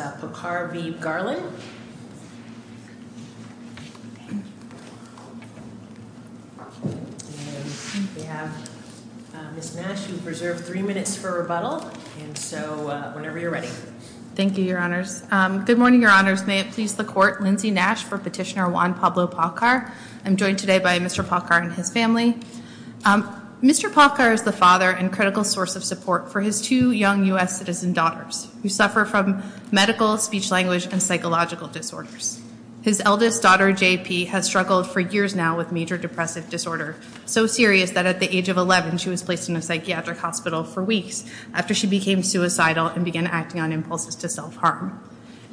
We have Ms. Nash who preserved three minutes for rebuttal, and so whenever you're ready. Thank you, Your Honors. Good morning, Your Honors. May it please the Court, Lindsay Nash for petitioner Juan Pablo Paucar. I'm joined today by Mr. Paucar and his family. Mr. Paucar is the father and critical source of support for his two young U.S. citizen daughters who suffer from medical, speech-language, and psychological disorders. His eldest daughter, JP, has struggled for years now with major depressive disorder, so serious that at the age of 11, she was placed in a psychiatric hospital for weeks after she became suicidal and began acting on impulses to self-harm.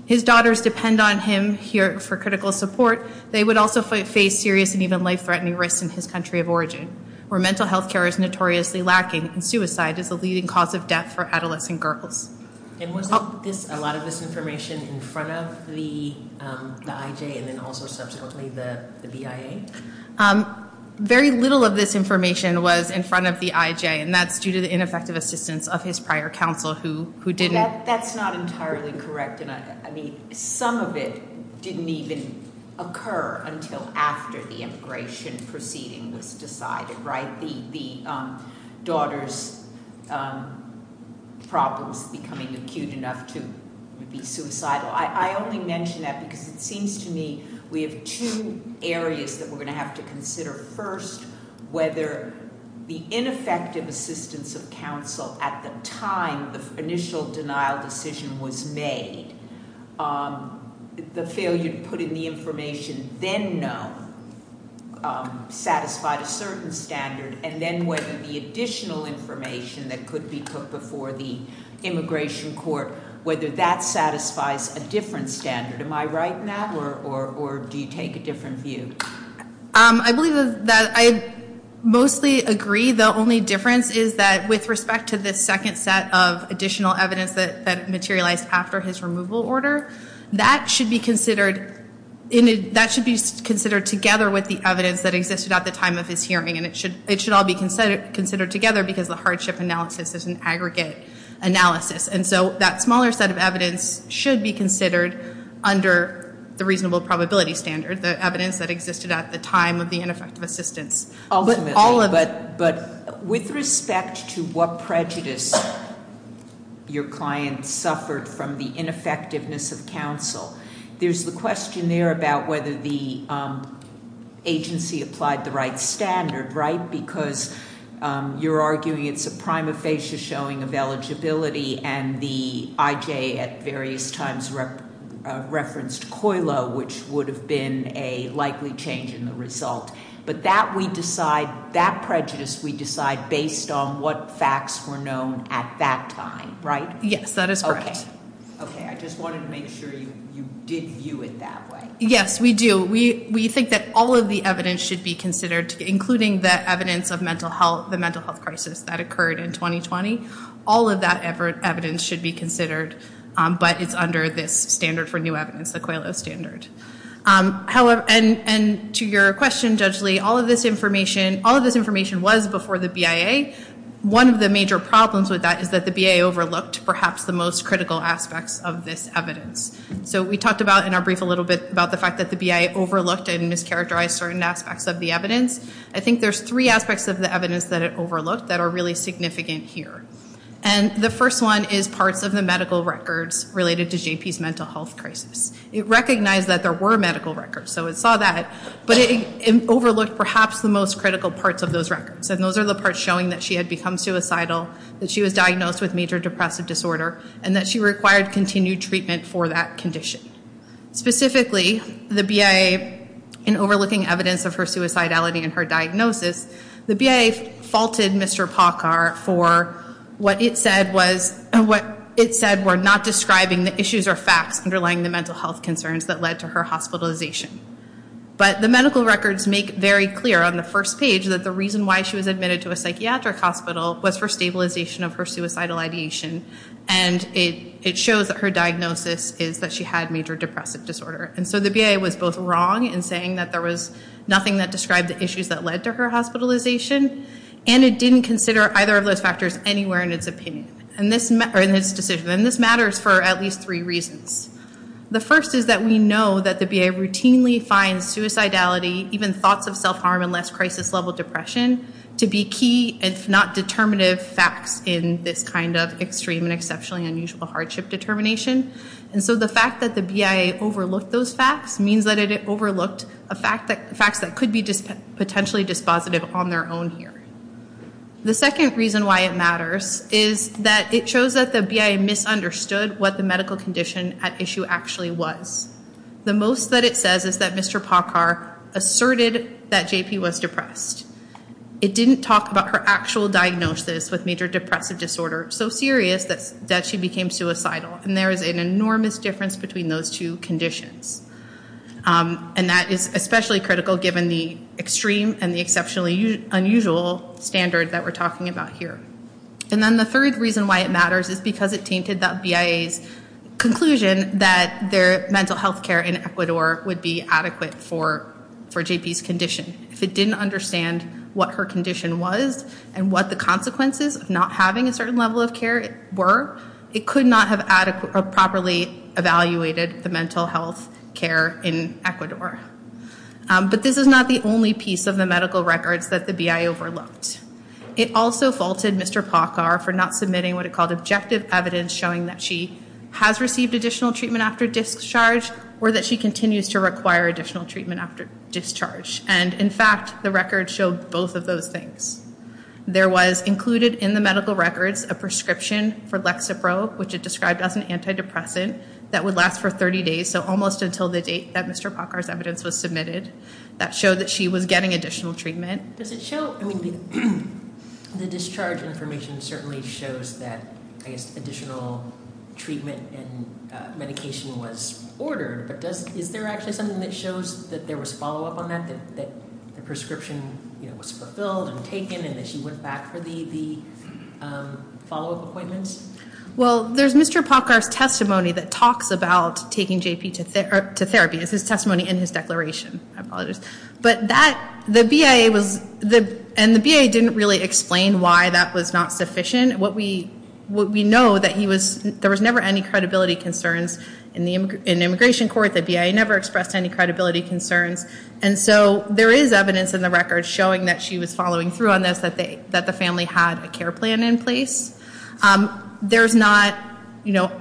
His daughters depend on him here for critical support. They would also face serious and even life-threatening risks in his country of origin, where mental health care is notoriously lacking and suicide is the leading cause of death for adolescent girls. And wasn't a lot of this information in front of the IJ and then also subsequently the BIA? Very little of this information was in front of the IJ, and that's due to the ineffective assistance of his prior counsel who didn't. That's not entirely correct. I mean, some of it didn't even occur until after the immigration proceeding was decided, right? The daughters' problems becoming acute enough to be suicidal. I only mention that because it seems to me we have two areas that we're going to have to consider. First, whether the ineffective assistance of counsel at the time the initial denial decision was made, the failure to put in the information then known, satisfied a certain standard, and then whether the additional information that could be put before the immigration court, whether that satisfies a different standard. Am I right in that, or do you take a different view? I believe that I mostly agree. The only difference is that with respect to the second set of additional evidence that materialized after his removal order, that should be considered together with the evidence that existed at the time of his hearing, and it should all be considered together because the hardship analysis is an aggregate analysis. And so that smaller set of evidence should be considered under the reasonable probability standard, the evidence that existed at the time of the ineffective assistance. But with respect to what prejudice your client suffered from the ineffectiveness of counsel, there's the question there about whether the agency applied the right standard, right? Because you're arguing it's a prima facie showing of eligibility, and the IJ at various times referenced COILO, which would have been a likely change in the result. But that we decide, that prejudice we decide based on what facts were known at that time, right? Yes, that is correct. Okay. I just wanted to make sure you did view it that way. Yes, we do. We think that all of the evidence should be considered, including the evidence of mental health, the mental health crisis that occurred in 2020. All of that evidence should be considered, but it's under this standard for new evidence, the COILO standard. And to your question, Judge Lee, all of this information was before the BIA. One of the major problems with that is that the BIA overlooked perhaps the most critical aspects of this evidence. So we talked about in our brief a little bit about the fact that the BIA overlooked and mischaracterized certain aspects of the evidence. I think there's three aspects of the evidence that it overlooked that are really significant here. And the first one is parts of the medical records related to JP's mental health crisis. It recognized that there were medical records, so it saw that, but it overlooked perhaps the most critical parts of those records. And those are the parts showing that she had become suicidal, that she was diagnosed with major depressive disorder, and that she required continued treatment for that condition. Specifically, the BIA, in overlooking evidence of her suicidality and her diagnosis, the BIA faulted Mr. Paukar for what it said was, what it said were not describing the issues or facts underlying the mental health concerns that led to her hospitalization. But the medical records make very clear on the first page that the reason why she was admitted to a psychiatric hospital was for stabilization of her suicidal ideation. And it shows that her diagnosis is that she had major depressive disorder. And so the BIA was both wrong in saying that there was nothing that described the issues that led to her hospitalization, and it didn't consider either of those factors anywhere in its decision. And this matters for at least three reasons. The first is that we know that the BIA routinely finds suicidality, even thoughts of self-harm and less crisis-level depression, to be key, if not determinative, facts in this kind of extreme and exceptionally unusual hardship determination. And so the fact that the BIA overlooked those facts means that it overlooked facts that could be potentially dispositive on their own here. The second reason why it matters is that it shows that the BIA misunderstood what the medical condition at issue actually was. The most that it says is that Mr. Pockar asserted that JP was depressed. It didn't talk about her actual diagnosis with major depressive disorder, so serious that she became suicidal. And there is an enormous difference between those two conditions. And that is especially critical given the extreme and the exceptionally unusual standard that we're talking about here. And then the third reason why it matters is because it tainted that BIA's conclusion that their mental health care in Ecuador would be adequate for JP's condition. If it didn't understand what her condition was and what the consequences of not having a certain level of care were, it could not have properly evaluated the mental health care in Ecuador. But this is not the only piece of the medical records that the BIA overlooked. It also faulted Mr. Pockar for not submitting what it called objective evidence showing that she has received additional treatment after discharge or that she continues to require additional treatment after discharge. And, in fact, the records show both of those things. There was included in the medical records a prescription for Lexapro, which it described as an antidepressant that would last for 30 days, so almost until the date that Mr. Pockar's evidence was submitted, that showed that she was getting additional treatment. Does it show? I mean, the discharge information certainly shows that, I guess, additional treatment and medication was ordered. But is there actually something that shows that there was follow-up on that, that the prescription was fulfilled and taken and that she went back for the follow-up appointments? Well, there's Mr. Pockar's testimony that talks about taking JP to therapy. It's his testimony and his declaration. I apologize. But that, the BIA was, and the BIA didn't really explain why that was not sufficient. What we know that he was, there was never any credibility concerns in immigration court. The BIA never expressed any credibility concerns. And so there is evidence in the records showing that she was following through on this, that the family had a care plan in place. There's not, you know,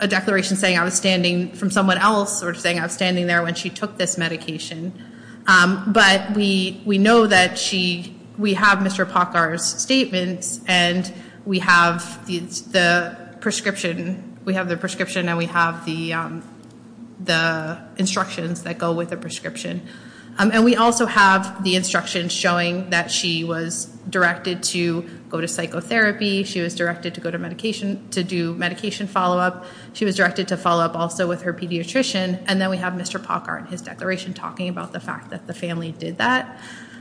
a declaration saying I was standing from someone else or saying I was standing there when she took this medication. But we know that she, we have Mr. Pockar's statements and we have the prescription, we have the prescription and we have the instructions that go with the prescription. And we also have the instructions showing that she was directed to go to psychotherapy. She was directed to go to medication, to do medication follow-up. She was directed to follow-up also with her pediatrician. And then we have Mr. Pockar and his declaration talking about the fact that the family did that.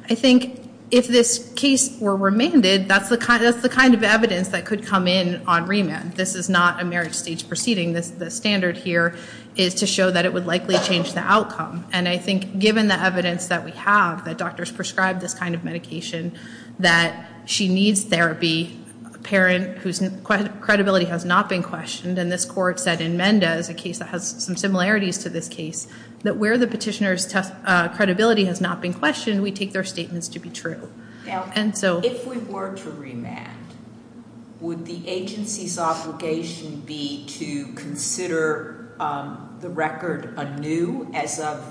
I think if this case were remanded, that's the kind of evidence that could come in on remand. This is not a marriage stage proceeding. The standard here is to show that it would likely change the outcome. And I think given the evidence that we have, that doctors prescribed this kind of medication, that she needs therapy, a parent whose credibility has not been questioned, and this court said in Mendez, a case that has some similarities to this case, that where the petitioner's credibility has not been questioned, we take their statements to be true. Now, if we were to remand, would the agency's obligation be to consider the record anew as of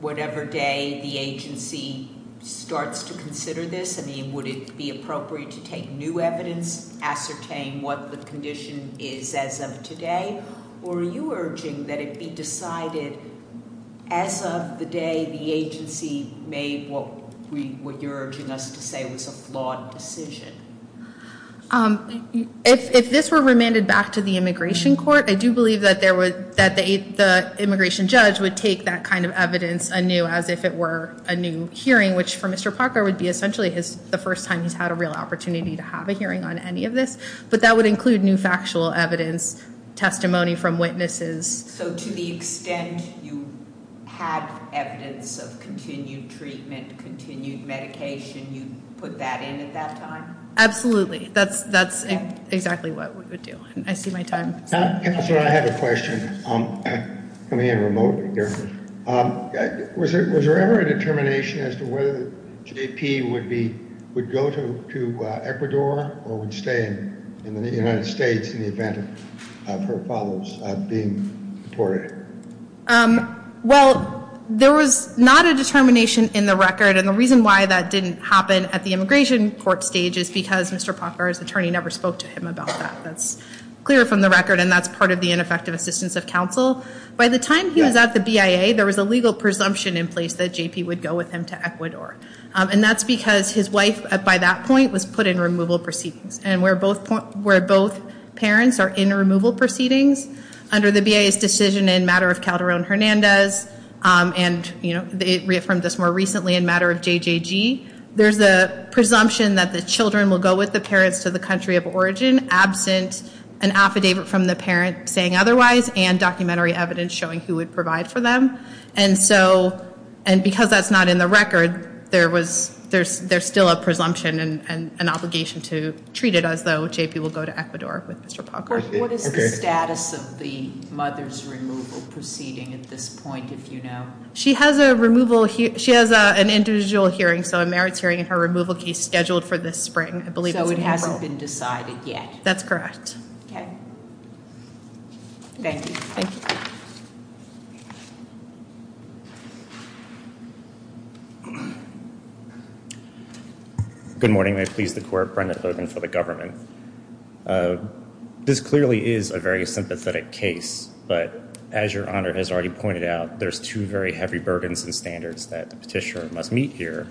whatever day the agency starts to consider this? I mean, would it be appropriate to take new evidence, ascertain what the condition is as of today? Or are you urging that it be decided as of the day the agency made what you're urging us to say was a flawed decision? If this were remanded back to the immigration court, I do believe that the immigration judge would take that kind of evidence anew as if it were a new hearing, which for Mr. Parker would be essentially the first time he's had a real opportunity to have a hearing on any of this. But that would include new factual evidence, testimony from witnesses. So to the extent you had evidence of continued treatment, continued medication, you'd put that in at that time? Absolutely. That's exactly what we would do. I see my time. Counselor, I have a question. I'm coming in remotely here. Was there ever a determination as to whether J.P. would go to Ecuador or would stay in the United States in the event of her father's being deported? Well, there was not a determination in the record. And the reason why that didn't happen at the immigration court stage is because Mr. Parker's attorney never spoke to him about that. That's clear from the record, and that's part of the ineffective assistance of counsel. By the time he was at the BIA, there was a legal presumption in place that J.P. would go with him to Ecuador. And that's because his wife, by that point, was put in removal proceedings. And where both parents are in removal proceedings, under the BIA's decision in matter of Calderon-Hernandez, and they reaffirmed this more recently in matter of JJG, there's a presumption that the children will go with the parents to the country of origin absent an affidavit from the parent saying otherwise and documentary evidence showing who would provide for them. And because that's not in the record, there's still a presumption and an obligation to treat it as though J.P. will go to Ecuador with Mr. Parker. What is the status of the mother's removal proceeding at this point, if you know? She has an individual hearing, so a merits hearing, and her removal case scheduled for this spring, I believe. So it hasn't been decided yet? That's correct. Okay. Thank you. Thank you. Good morning. May it please the Court, Brenda Thurman for the government. This clearly is a very sympathetic case, but as Your Honor has already pointed out, there's two very heavy burdens and standards that the petitioner must meet here.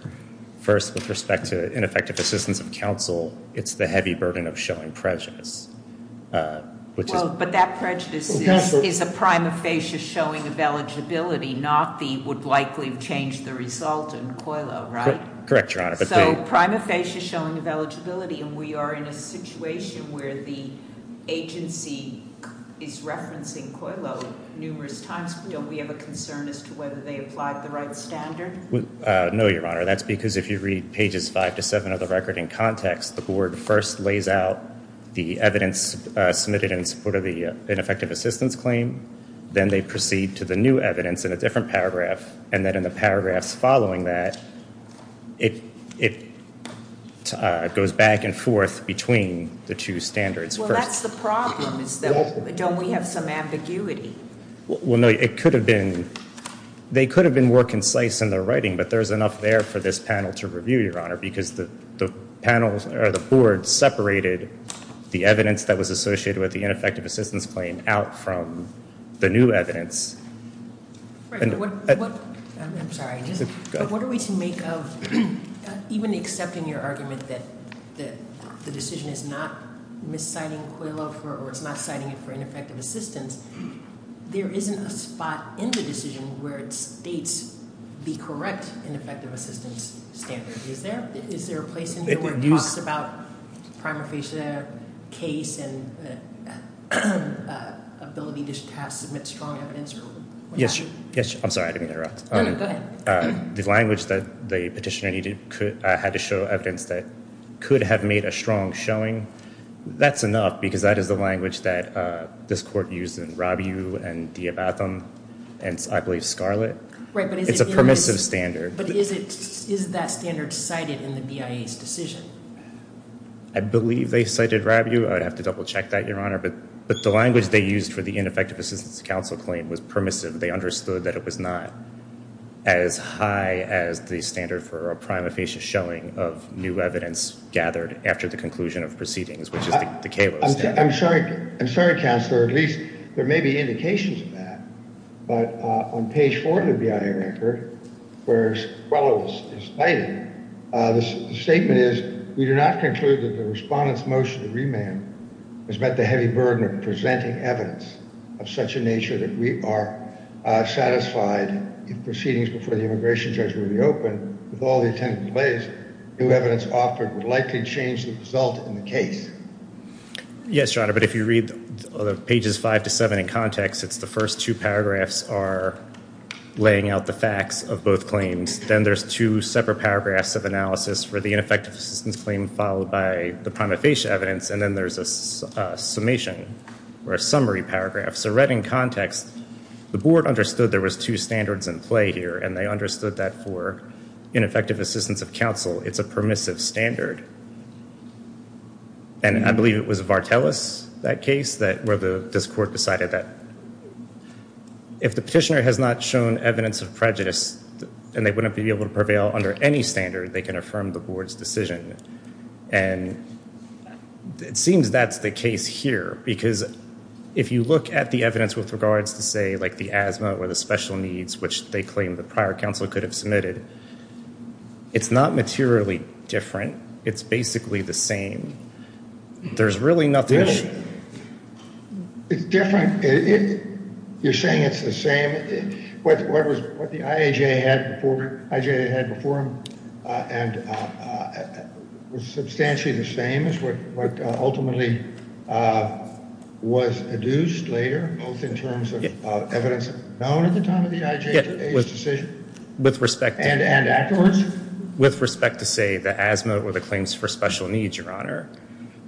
First, with respect to ineffective assistance of counsel, it's the heavy burden of showing prejudice. But that prejudice is a prima facie showing of eligibility, not the would likely change the result in COILO, right? Correct, Your Honor. So, prima facie showing of eligibility, and we are in a situation where the agency is referencing COILO numerous times. Don't we have a concern as to whether they applied the right standard? No, Your Honor. That's because if you read pages five to seven of the record in context, the Board first lays out the evidence submitted in support of the ineffective assistance claim. Then they proceed to the new evidence in a different paragraph. And then in the paragraphs following that, it goes back and forth between the two standards. Well, that's the problem, is that don't we have some ambiguity? Well, no, it could have been, they could have been more concise in their writing, but there's enough there for this panel to review, Your Honor, because the panel or the Board separated the evidence that was associated with the ineffective assistance claim out from the new evidence. Right, but what- I'm sorry, just- Go ahead. But what are we to make of, even accepting your argument that the decision is not misciting COILO for, or it's not citing it for ineffective assistance, there isn't a spot in the decision where it states the correct ineffective assistance standard. Is there a place in here where it talks about prima facie case and the ability to submit strong evidence or what have you? Yes, I'm sorry, I didn't mean to interrupt. No, no, go ahead. The language that the petitioner needed had to show evidence that could have made a strong showing. That's enough because that is the language that this Court used in Rabiou and Diabatham and, I believe, Scarlett. Right, but is it- It's a permissive standard. But is that standard cited in the BIA's decision? I believe they cited Rabiou. I would have to double-check that, Your Honor. But the language they used for the ineffective assistance counsel claim was permissive. They understood that it was not as high as the standard for a prima facie showing of new evidence gathered after the conclusion of proceedings, which is the COILO standard. I'm sorry, Counselor. At least there may be indications of that. But on page 4 of the BIA record, where COILO is cited, the statement is, We do not conclude that the Respondent's motion to remand has met the heavy burden of presenting evidence of such a nature that we are satisfied if proceedings before the immigration judge were reopened with all the intended delays, new evidence offered would likely change the result in the case. Yes, Your Honor, but if you read pages 5 to 7 in context, it's the first two paragraphs are laying out the facts of both claims. Then there's two separate paragraphs of analysis for the ineffective assistance claim followed by the prima facie evidence, and then there's a summation or a summary paragraph. So read in context, the Board understood there was two standards in play here, and they understood that for ineffective assistance of counsel, it's a permissive standard. And I believe it was Vartelis, that case, where this Court decided that if the petitioner has not shown evidence of prejudice, and they wouldn't be able to prevail under any standard, they can affirm the Board's decision. And it seems that's the case here, because if you look at the evidence with regards to, say, like the asthma or the special needs, which they claim the prior counsel could have submitted, it's not materially different. It's basically the same. There's really nothing. It's different. You're saying it's the same. What the IAJ had before him was substantially the same as what ultimately was adduced later, both in terms of evidence known at the time of the IAJ's decision. With respect to, say, the asthma or the claims for special needs, Your Honor,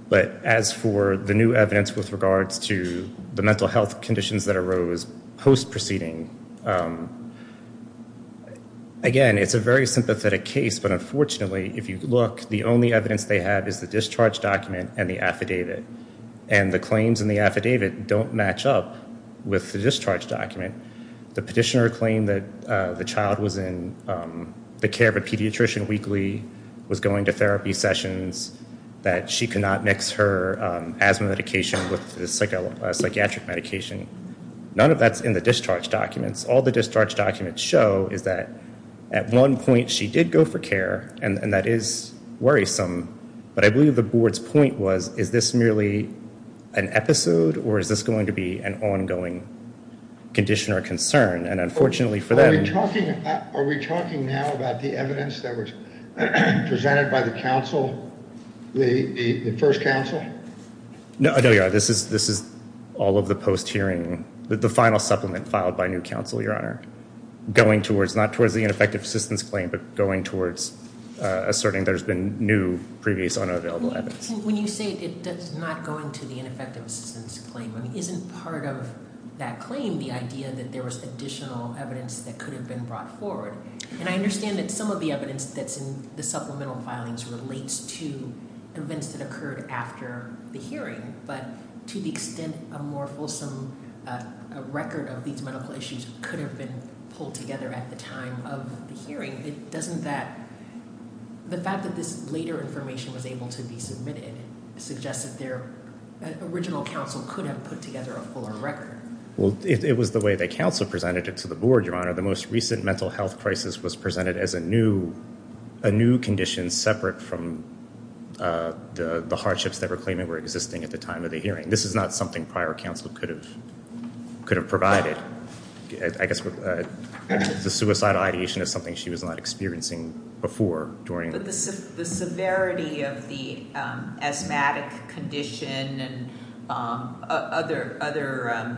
but as for the new evidence with regards to the mental health conditions that arose post-proceeding, again, it's a very sympathetic case, but unfortunately, if you look, the only evidence they have is the discharge document and the affidavit. And the claims in the affidavit don't match up with the discharge document. The petitioner claimed that the child was in the care of a pediatrician weekly, was going to therapy sessions, that she could not mix her asthma medication with a psychiatric medication. None of that's in the discharge documents. All the discharge documents show is that at one point she did go for care, and that is worrisome. But I believe the board's point was, is this merely an episode, or is this going to be an ongoing condition or concern? And unfortunately for them- Are we talking now about the evidence that was presented by the first counsel? No, Your Honor. This is all of the post-hearing, the final supplement filed by new counsel, Your Honor, going towards, not towards the ineffective assistance claim, but going towards asserting there's been new, previous unavailable evidence. When you say it's not going to the ineffective assistance claim, isn't part of that claim the idea that there was additional evidence that could have been brought forward? And I understand that some of the evidence that's in the supplemental filings relates to events that occurred after the hearing, but to the extent a more fulsome record of these medical issues could have been pulled together at the time of the hearing, doesn't that, the fact that this later information was able to be submitted, suggests that their original counsel could have put together a fuller record. Well, it was the way the counsel presented it to the board, Your Honor. The most recent mental health crisis was presented as a new condition, separate from the hardships that were claiming were existing at the time of the hearing. This is not something prior counsel could have provided. I guess the suicidal ideation is something she was not experiencing before during- But the severity of the asthmatic condition and other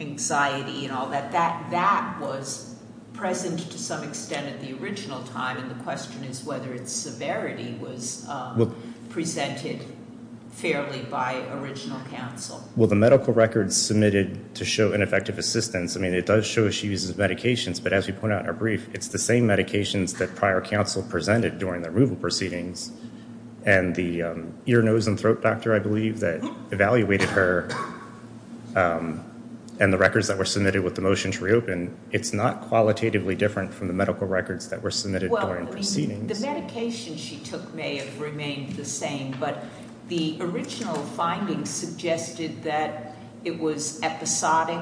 anxiety and all that, that was present to some extent at the original time, and the question is whether its severity was presented fairly by original counsel. Well, the medical record submitted to show ineffective assistance, I mean, it does show she uses medications, but as we point out in our brief, it's the same medications that prior counsel presented during the removal proceedings, and the ear, nose, and throat doctor, I believe, that evaluated her, and the records that were submitted with the motion to reopen, it's not qualitatively different from the medical records that were submitted during proceedings. Well, I mean, the medication she took may have remained the same, but the original findings suggested that it was episodic,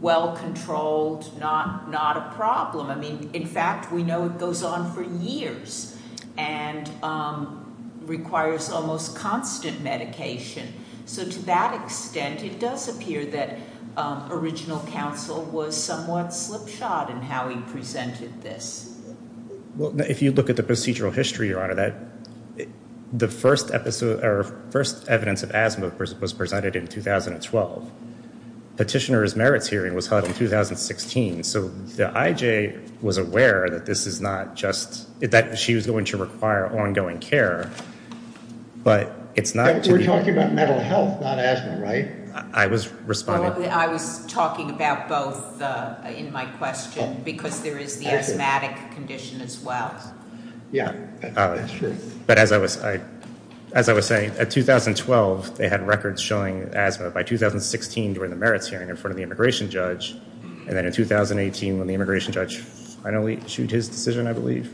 well-controlled, not a problem. I mean, in fact, we know it goes on for years and requires almost constant medication. So to that extent, it does appear that original counsel was somewhat slipshod in how he presented this. Well, if you look at the procedural history, Your Honor, that the first evidence of asthma was presented in 2012. Petitioner's merits hearing was held in 2016, so the IJ was aware that this is not just, that she was going to require ongoing care, but it's not to be. We're talking about mental health, not asthma, right? I was responding. I was talking about both in my question, because there is the asthmatic condition as well. Yeah, that's true. But as I was saying, in 2012, they had records showing asthma. By 2016, during the merits hearing in front of the immigration judge, and then in 2018, when the immigration judge finally issued his decision, I believe,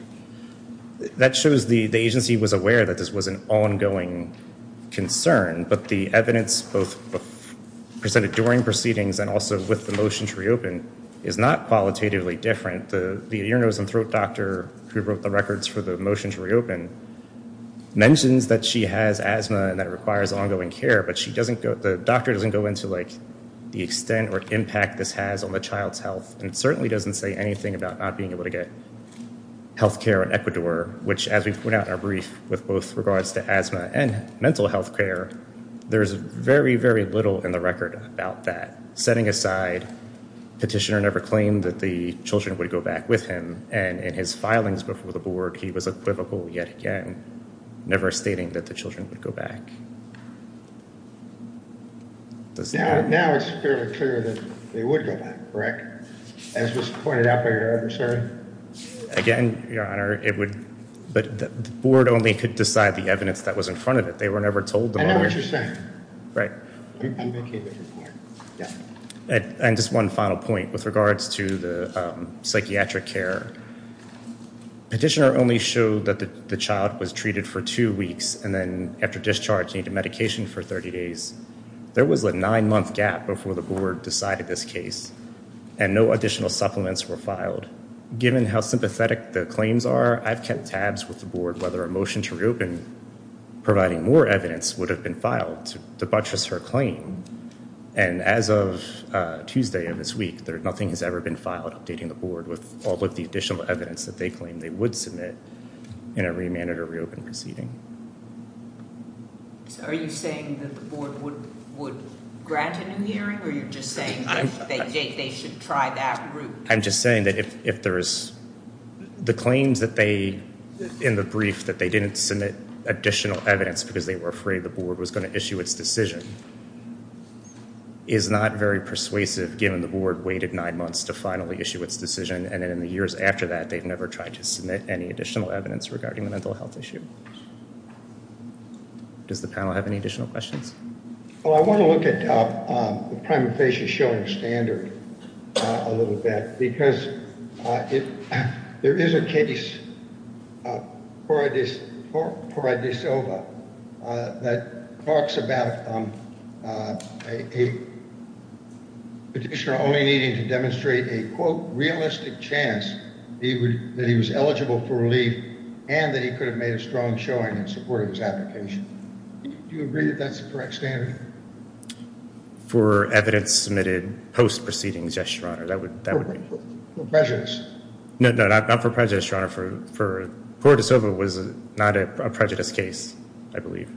that shows the agency was aware that this was an ongoing concern, but the evidence both presented during proceedings and also with the motion to reopen is not qualitatively different. The ear, nose, and throat doctor who wrote the records for the motion to reopen mentions that she has asthma and that it requires ongoing care, but the doctor doesn't go into the extent or impact this has on the child's health and certainly doesn't say anything about not being able to get health care in Ecuador, which, as we put out in our brief, with both regards to asthma and mental health care, there's very, very little in the record about that. Setting aside petitioner never claimed that the children would go back with him, and in his filings before the board, he was equivocal yet again, never stating that the children would go back. Now it's fairly clear that they would go back, correct? As was pointed out by your other attorney? Again, your honor, it would, but the board only could decide the evidence that was in front of it. They were never told. I know what you're saying. Right. And just one final point with regards to the psychiatric care. Petitioner only showed that the child was treated for two weeks and then after discharge needed medication for 30 days. There was a nine-month gap before the board decided this case, and no additional supplements were filed. Given how sympathetic the claims are, I've kept tabs with the board whether a motion to reopen, providing more evidence, would have been filed to buttress her claim, and as of Tuesday of this week, nothing has ever been filed updating the board with all of the additional evidence that they claim they would submit in a remand or reopen proceeding. So are you saying that the board would grant a new hearing, or are you just saying that they should try that route? I'm just saying that if there is, the claims that they, in the brief, that they didn't submit additional evidence because they were afraid the board was going to issue its decision, is not very persuasive given the board waited nine months to finally issue its decision, and then in the years after that, they've never tried to submit any additional evidence regarding the mental health issue. Does the panel have any additional questions? Well, I want to look at the primary patient showing standard a little bit, because there is a case, Pora de Silva, that talks about a petitioner only needing to demonstrate a, quote, realistic chance that he was eligible for relief and that he could have made a strong showing in support of his application. Do you agree that that's the correct standard? For evidence submitted post-proceedings, yes, Your Honor, that would be. For prejudice? No, not for prejudice, Your Honor. Pora de Silva was not a prejudice case, I believe.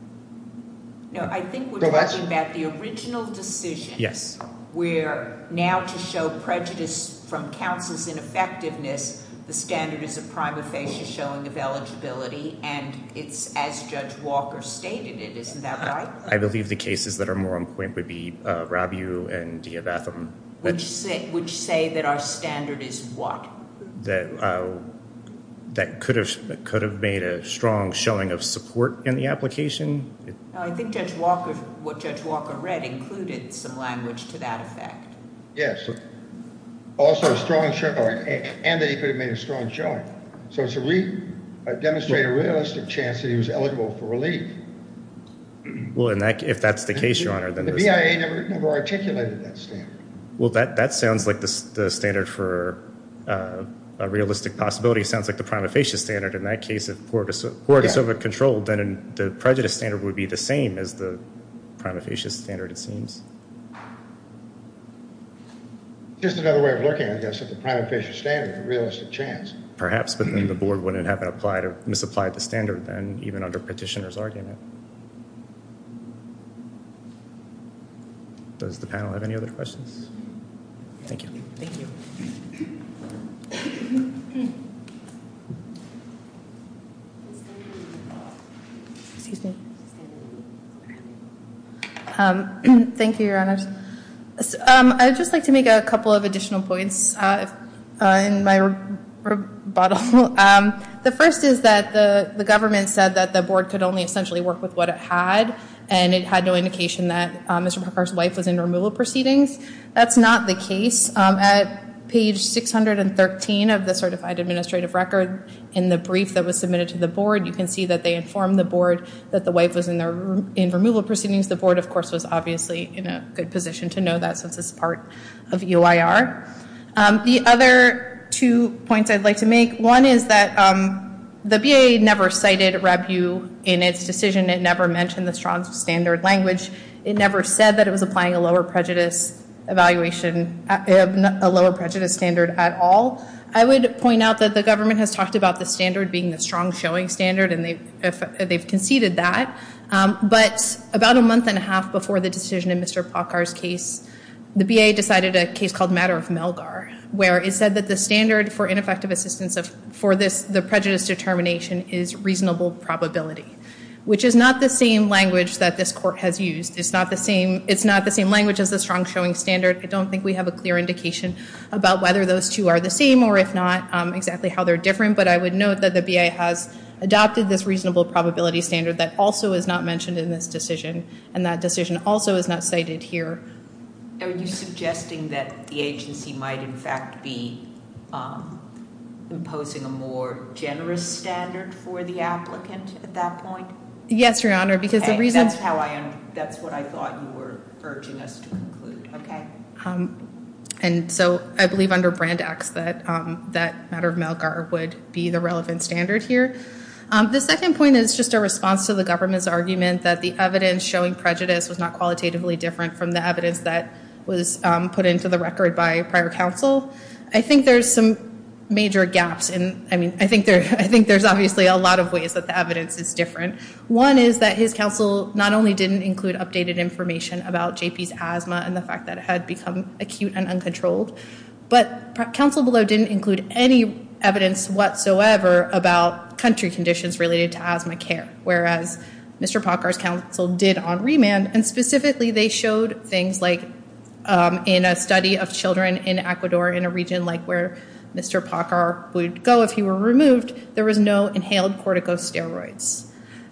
No, I think we're talking about the original decision. Yes. Where now to show prejudice from counsel's ineffectiveness, the standard is a prima facie showing of eligibility, and it's as Judge Walker stated it, isn't that right? I believe the cases that are more on point would be Rabiou and Diabatham. Which say that our standard is what? That could have made a strong showing of support in the application. I think what Judge Walker read included some language to that effect. Yes, and that he could have made a strong showing. So it's to demonstrate a realistic chance that he was eligible for relief. Well, if that's the case, Your Honor, then the standard. I never articulated that standard. Well, that sounds like the standard for a realistic possibility. It sounds like the prima facie standard. In that case, if Pora de Silva controlled, then the prejudice standard would be the same as the prima facie standard, it seems. Just another way of looking at this, if the prima facie standard is a realistic chance. Perhaps, but then the board wouldn't have applied or misapplied the standard then, even under petitioner's argument. Does the panel have any other questions? Thank you. Thank you. Thank you, Your Honor. I would just like to make a couple of additional points in my rebuttal. The first is that the government said that the board could only essentially work with what it had, and it had no indication that Mr. Parker's wife was in removal proceedings. That's not the case. At page 613 of the certified administrative record, in the brief that was submitted to the board, you can see that they informed the board that the wife was in removal proceedings. The board, of course, was obviously in a good position to know that since it's part of UIR. The other two points I'd like to make. One is that the BAA never cited RABU in its decision. It never mentioned the strong standard language. It never said that it was applying a lower prejudice evaluation, a lower prejudice standard at all. I would point out that the government has talked about the standard being the strong showing standard, and they've conceded that. But about a month and a half before the decision in Mr. Parker's case, the BAA decided a case called Matter of Melgar, where it said that the standard for ineffective assistance for the prejudice determination is reasonable probability, which is not the same language that this court has used. It's not the same language as the strong showing standard. I don't think we have a clear indication about whether those two are the same, or if not, exactly how they're different. But I would note that the BAA has adopted this reasonable probability standard that also is not mentioned in this decision, and that decision also is not cited here. Are you suggesting that the agency might in fact be imposing a more generous standard for the applicant at that point? Yes, Your Honor, because the reason- Okay, that's what I thought you were urging us to conclude. Okay. And so I believe under Brand X that Matter of Melgar would be the relevant standard here. The second point is just a response to the government's argument that the evidence showing prejudice was not qualitatively different from the evidence that was put into the record by prior counsel. I think there's some major gaps. I mean, I think there's obviously a lot of ways that the evidence is different. One is that his counsel not only didn't include updated information about J.P.'s asthma and the fact that it had become acute and uncontrolled, but counsel below didn't include any evidence whatsoever about country conditions related to asthma care, whereas Mr. Pockar's counsel did on remand, and specifically they showed things like in a study of children in Ecuador in a region like where Mr. Pockar would go if he were removed, there was no inhaled corticosteroids.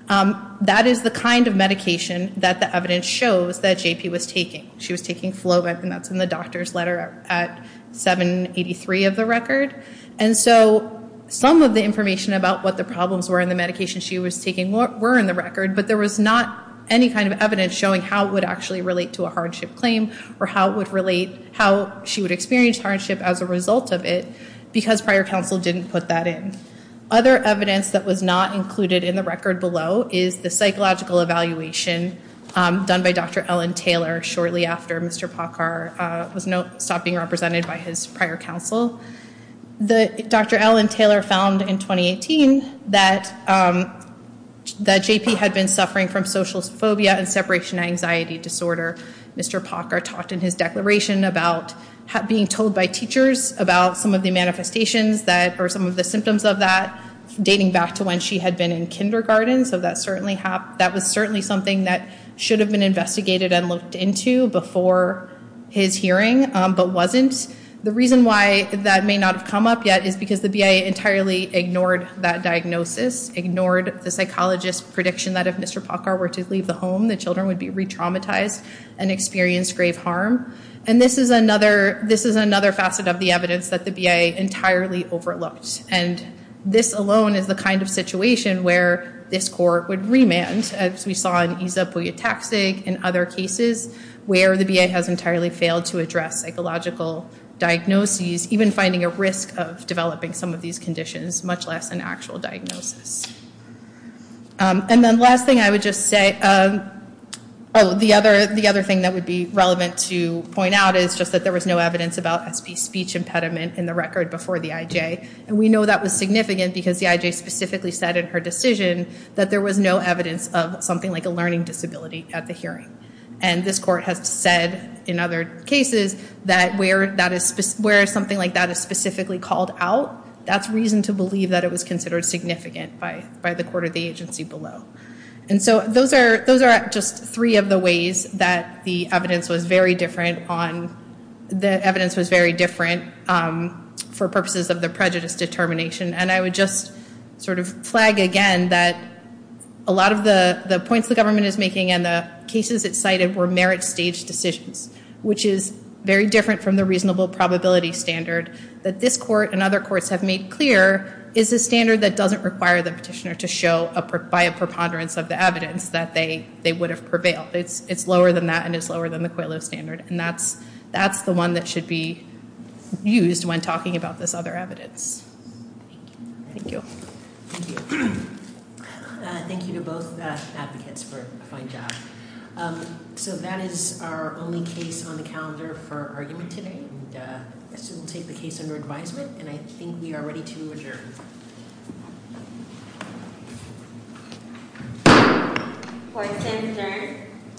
That is the kind of medication that the evidence shows that J.P. was taking. She was taking Flovip, and that's in the doctor's letter at 783 of the record. And so some of the information about what the problems were in the medication she was taking were in the record, but there was not any kind of evidence showing how it would actually relate to a hardship claim or how she would experience hardship as a result of it because prior counsel didn't put that in. Other evidence that was not included in the record below is the psychological evaluation done by Dr. Ellen Taylor shortly after Mr. Pockar stopped being represented by his prior counsel. Dr. Ellen Taylor found in 2018 that J.P. had been suffering from social phobia and separation anxiety disorder. Mr. Pockar talked in his declaration about being told by teachers about some of the manifestations or some of the symptoms of that dating back to when she had been in kindergarten, so that was certainly something that should have been investigated and looked into before his hearing but wasn't. The reason why that may not have come up yet is because the BIA entirely ignored that diagnosis, ignored the psychologist's prediction that if Mr. Pockar were to leave the home, the children would be re-traumatized and experience grave harm. And this is another facet of the evidence that the BIA entirely overlooked, and this alone is the kind of situation where this court would remand, as we saw in Iza Pouyataksig and other cases, where the BIA has entirely failed to address psychological diagnoses, even finding a risk of developing some of these conditions, much less an actual diagnosis. And then last thing I would just say, oh, the other thing that would be relevant to point out is just that there was no evidence about SP speech impediment in the record before the IJ. And we know that was significant because the IJ specifically said in her decision that there was no evidence of something like a learning disability at the hearing. And this court has said in other cases that where something like that is specifically called out, that's reason to believe that it was considered significant by the court or the agency below. And so those are just three of the ways that the evidence was very different for purposes of the prejudice determination. And I would just sort of flag again that a lot of the points the government is making and the cases it cited were merit-staged decisions, which is very different from the reasonable probability standard that this court and other courts have made clear is a standard that doesn't require the petitioner to show by a preponderance of the evidence that they would have prevailed. It's lower than that and it's lower than the COILO standard. And that's the one that should be used when talking about this other evidence. Thank you. Thank you. Thank you to both advocates for a fine job. So that is our only case on the calendar for argument today. So we'll take the case under advisement, and I think we are ready to adjourn. Court is adjourned.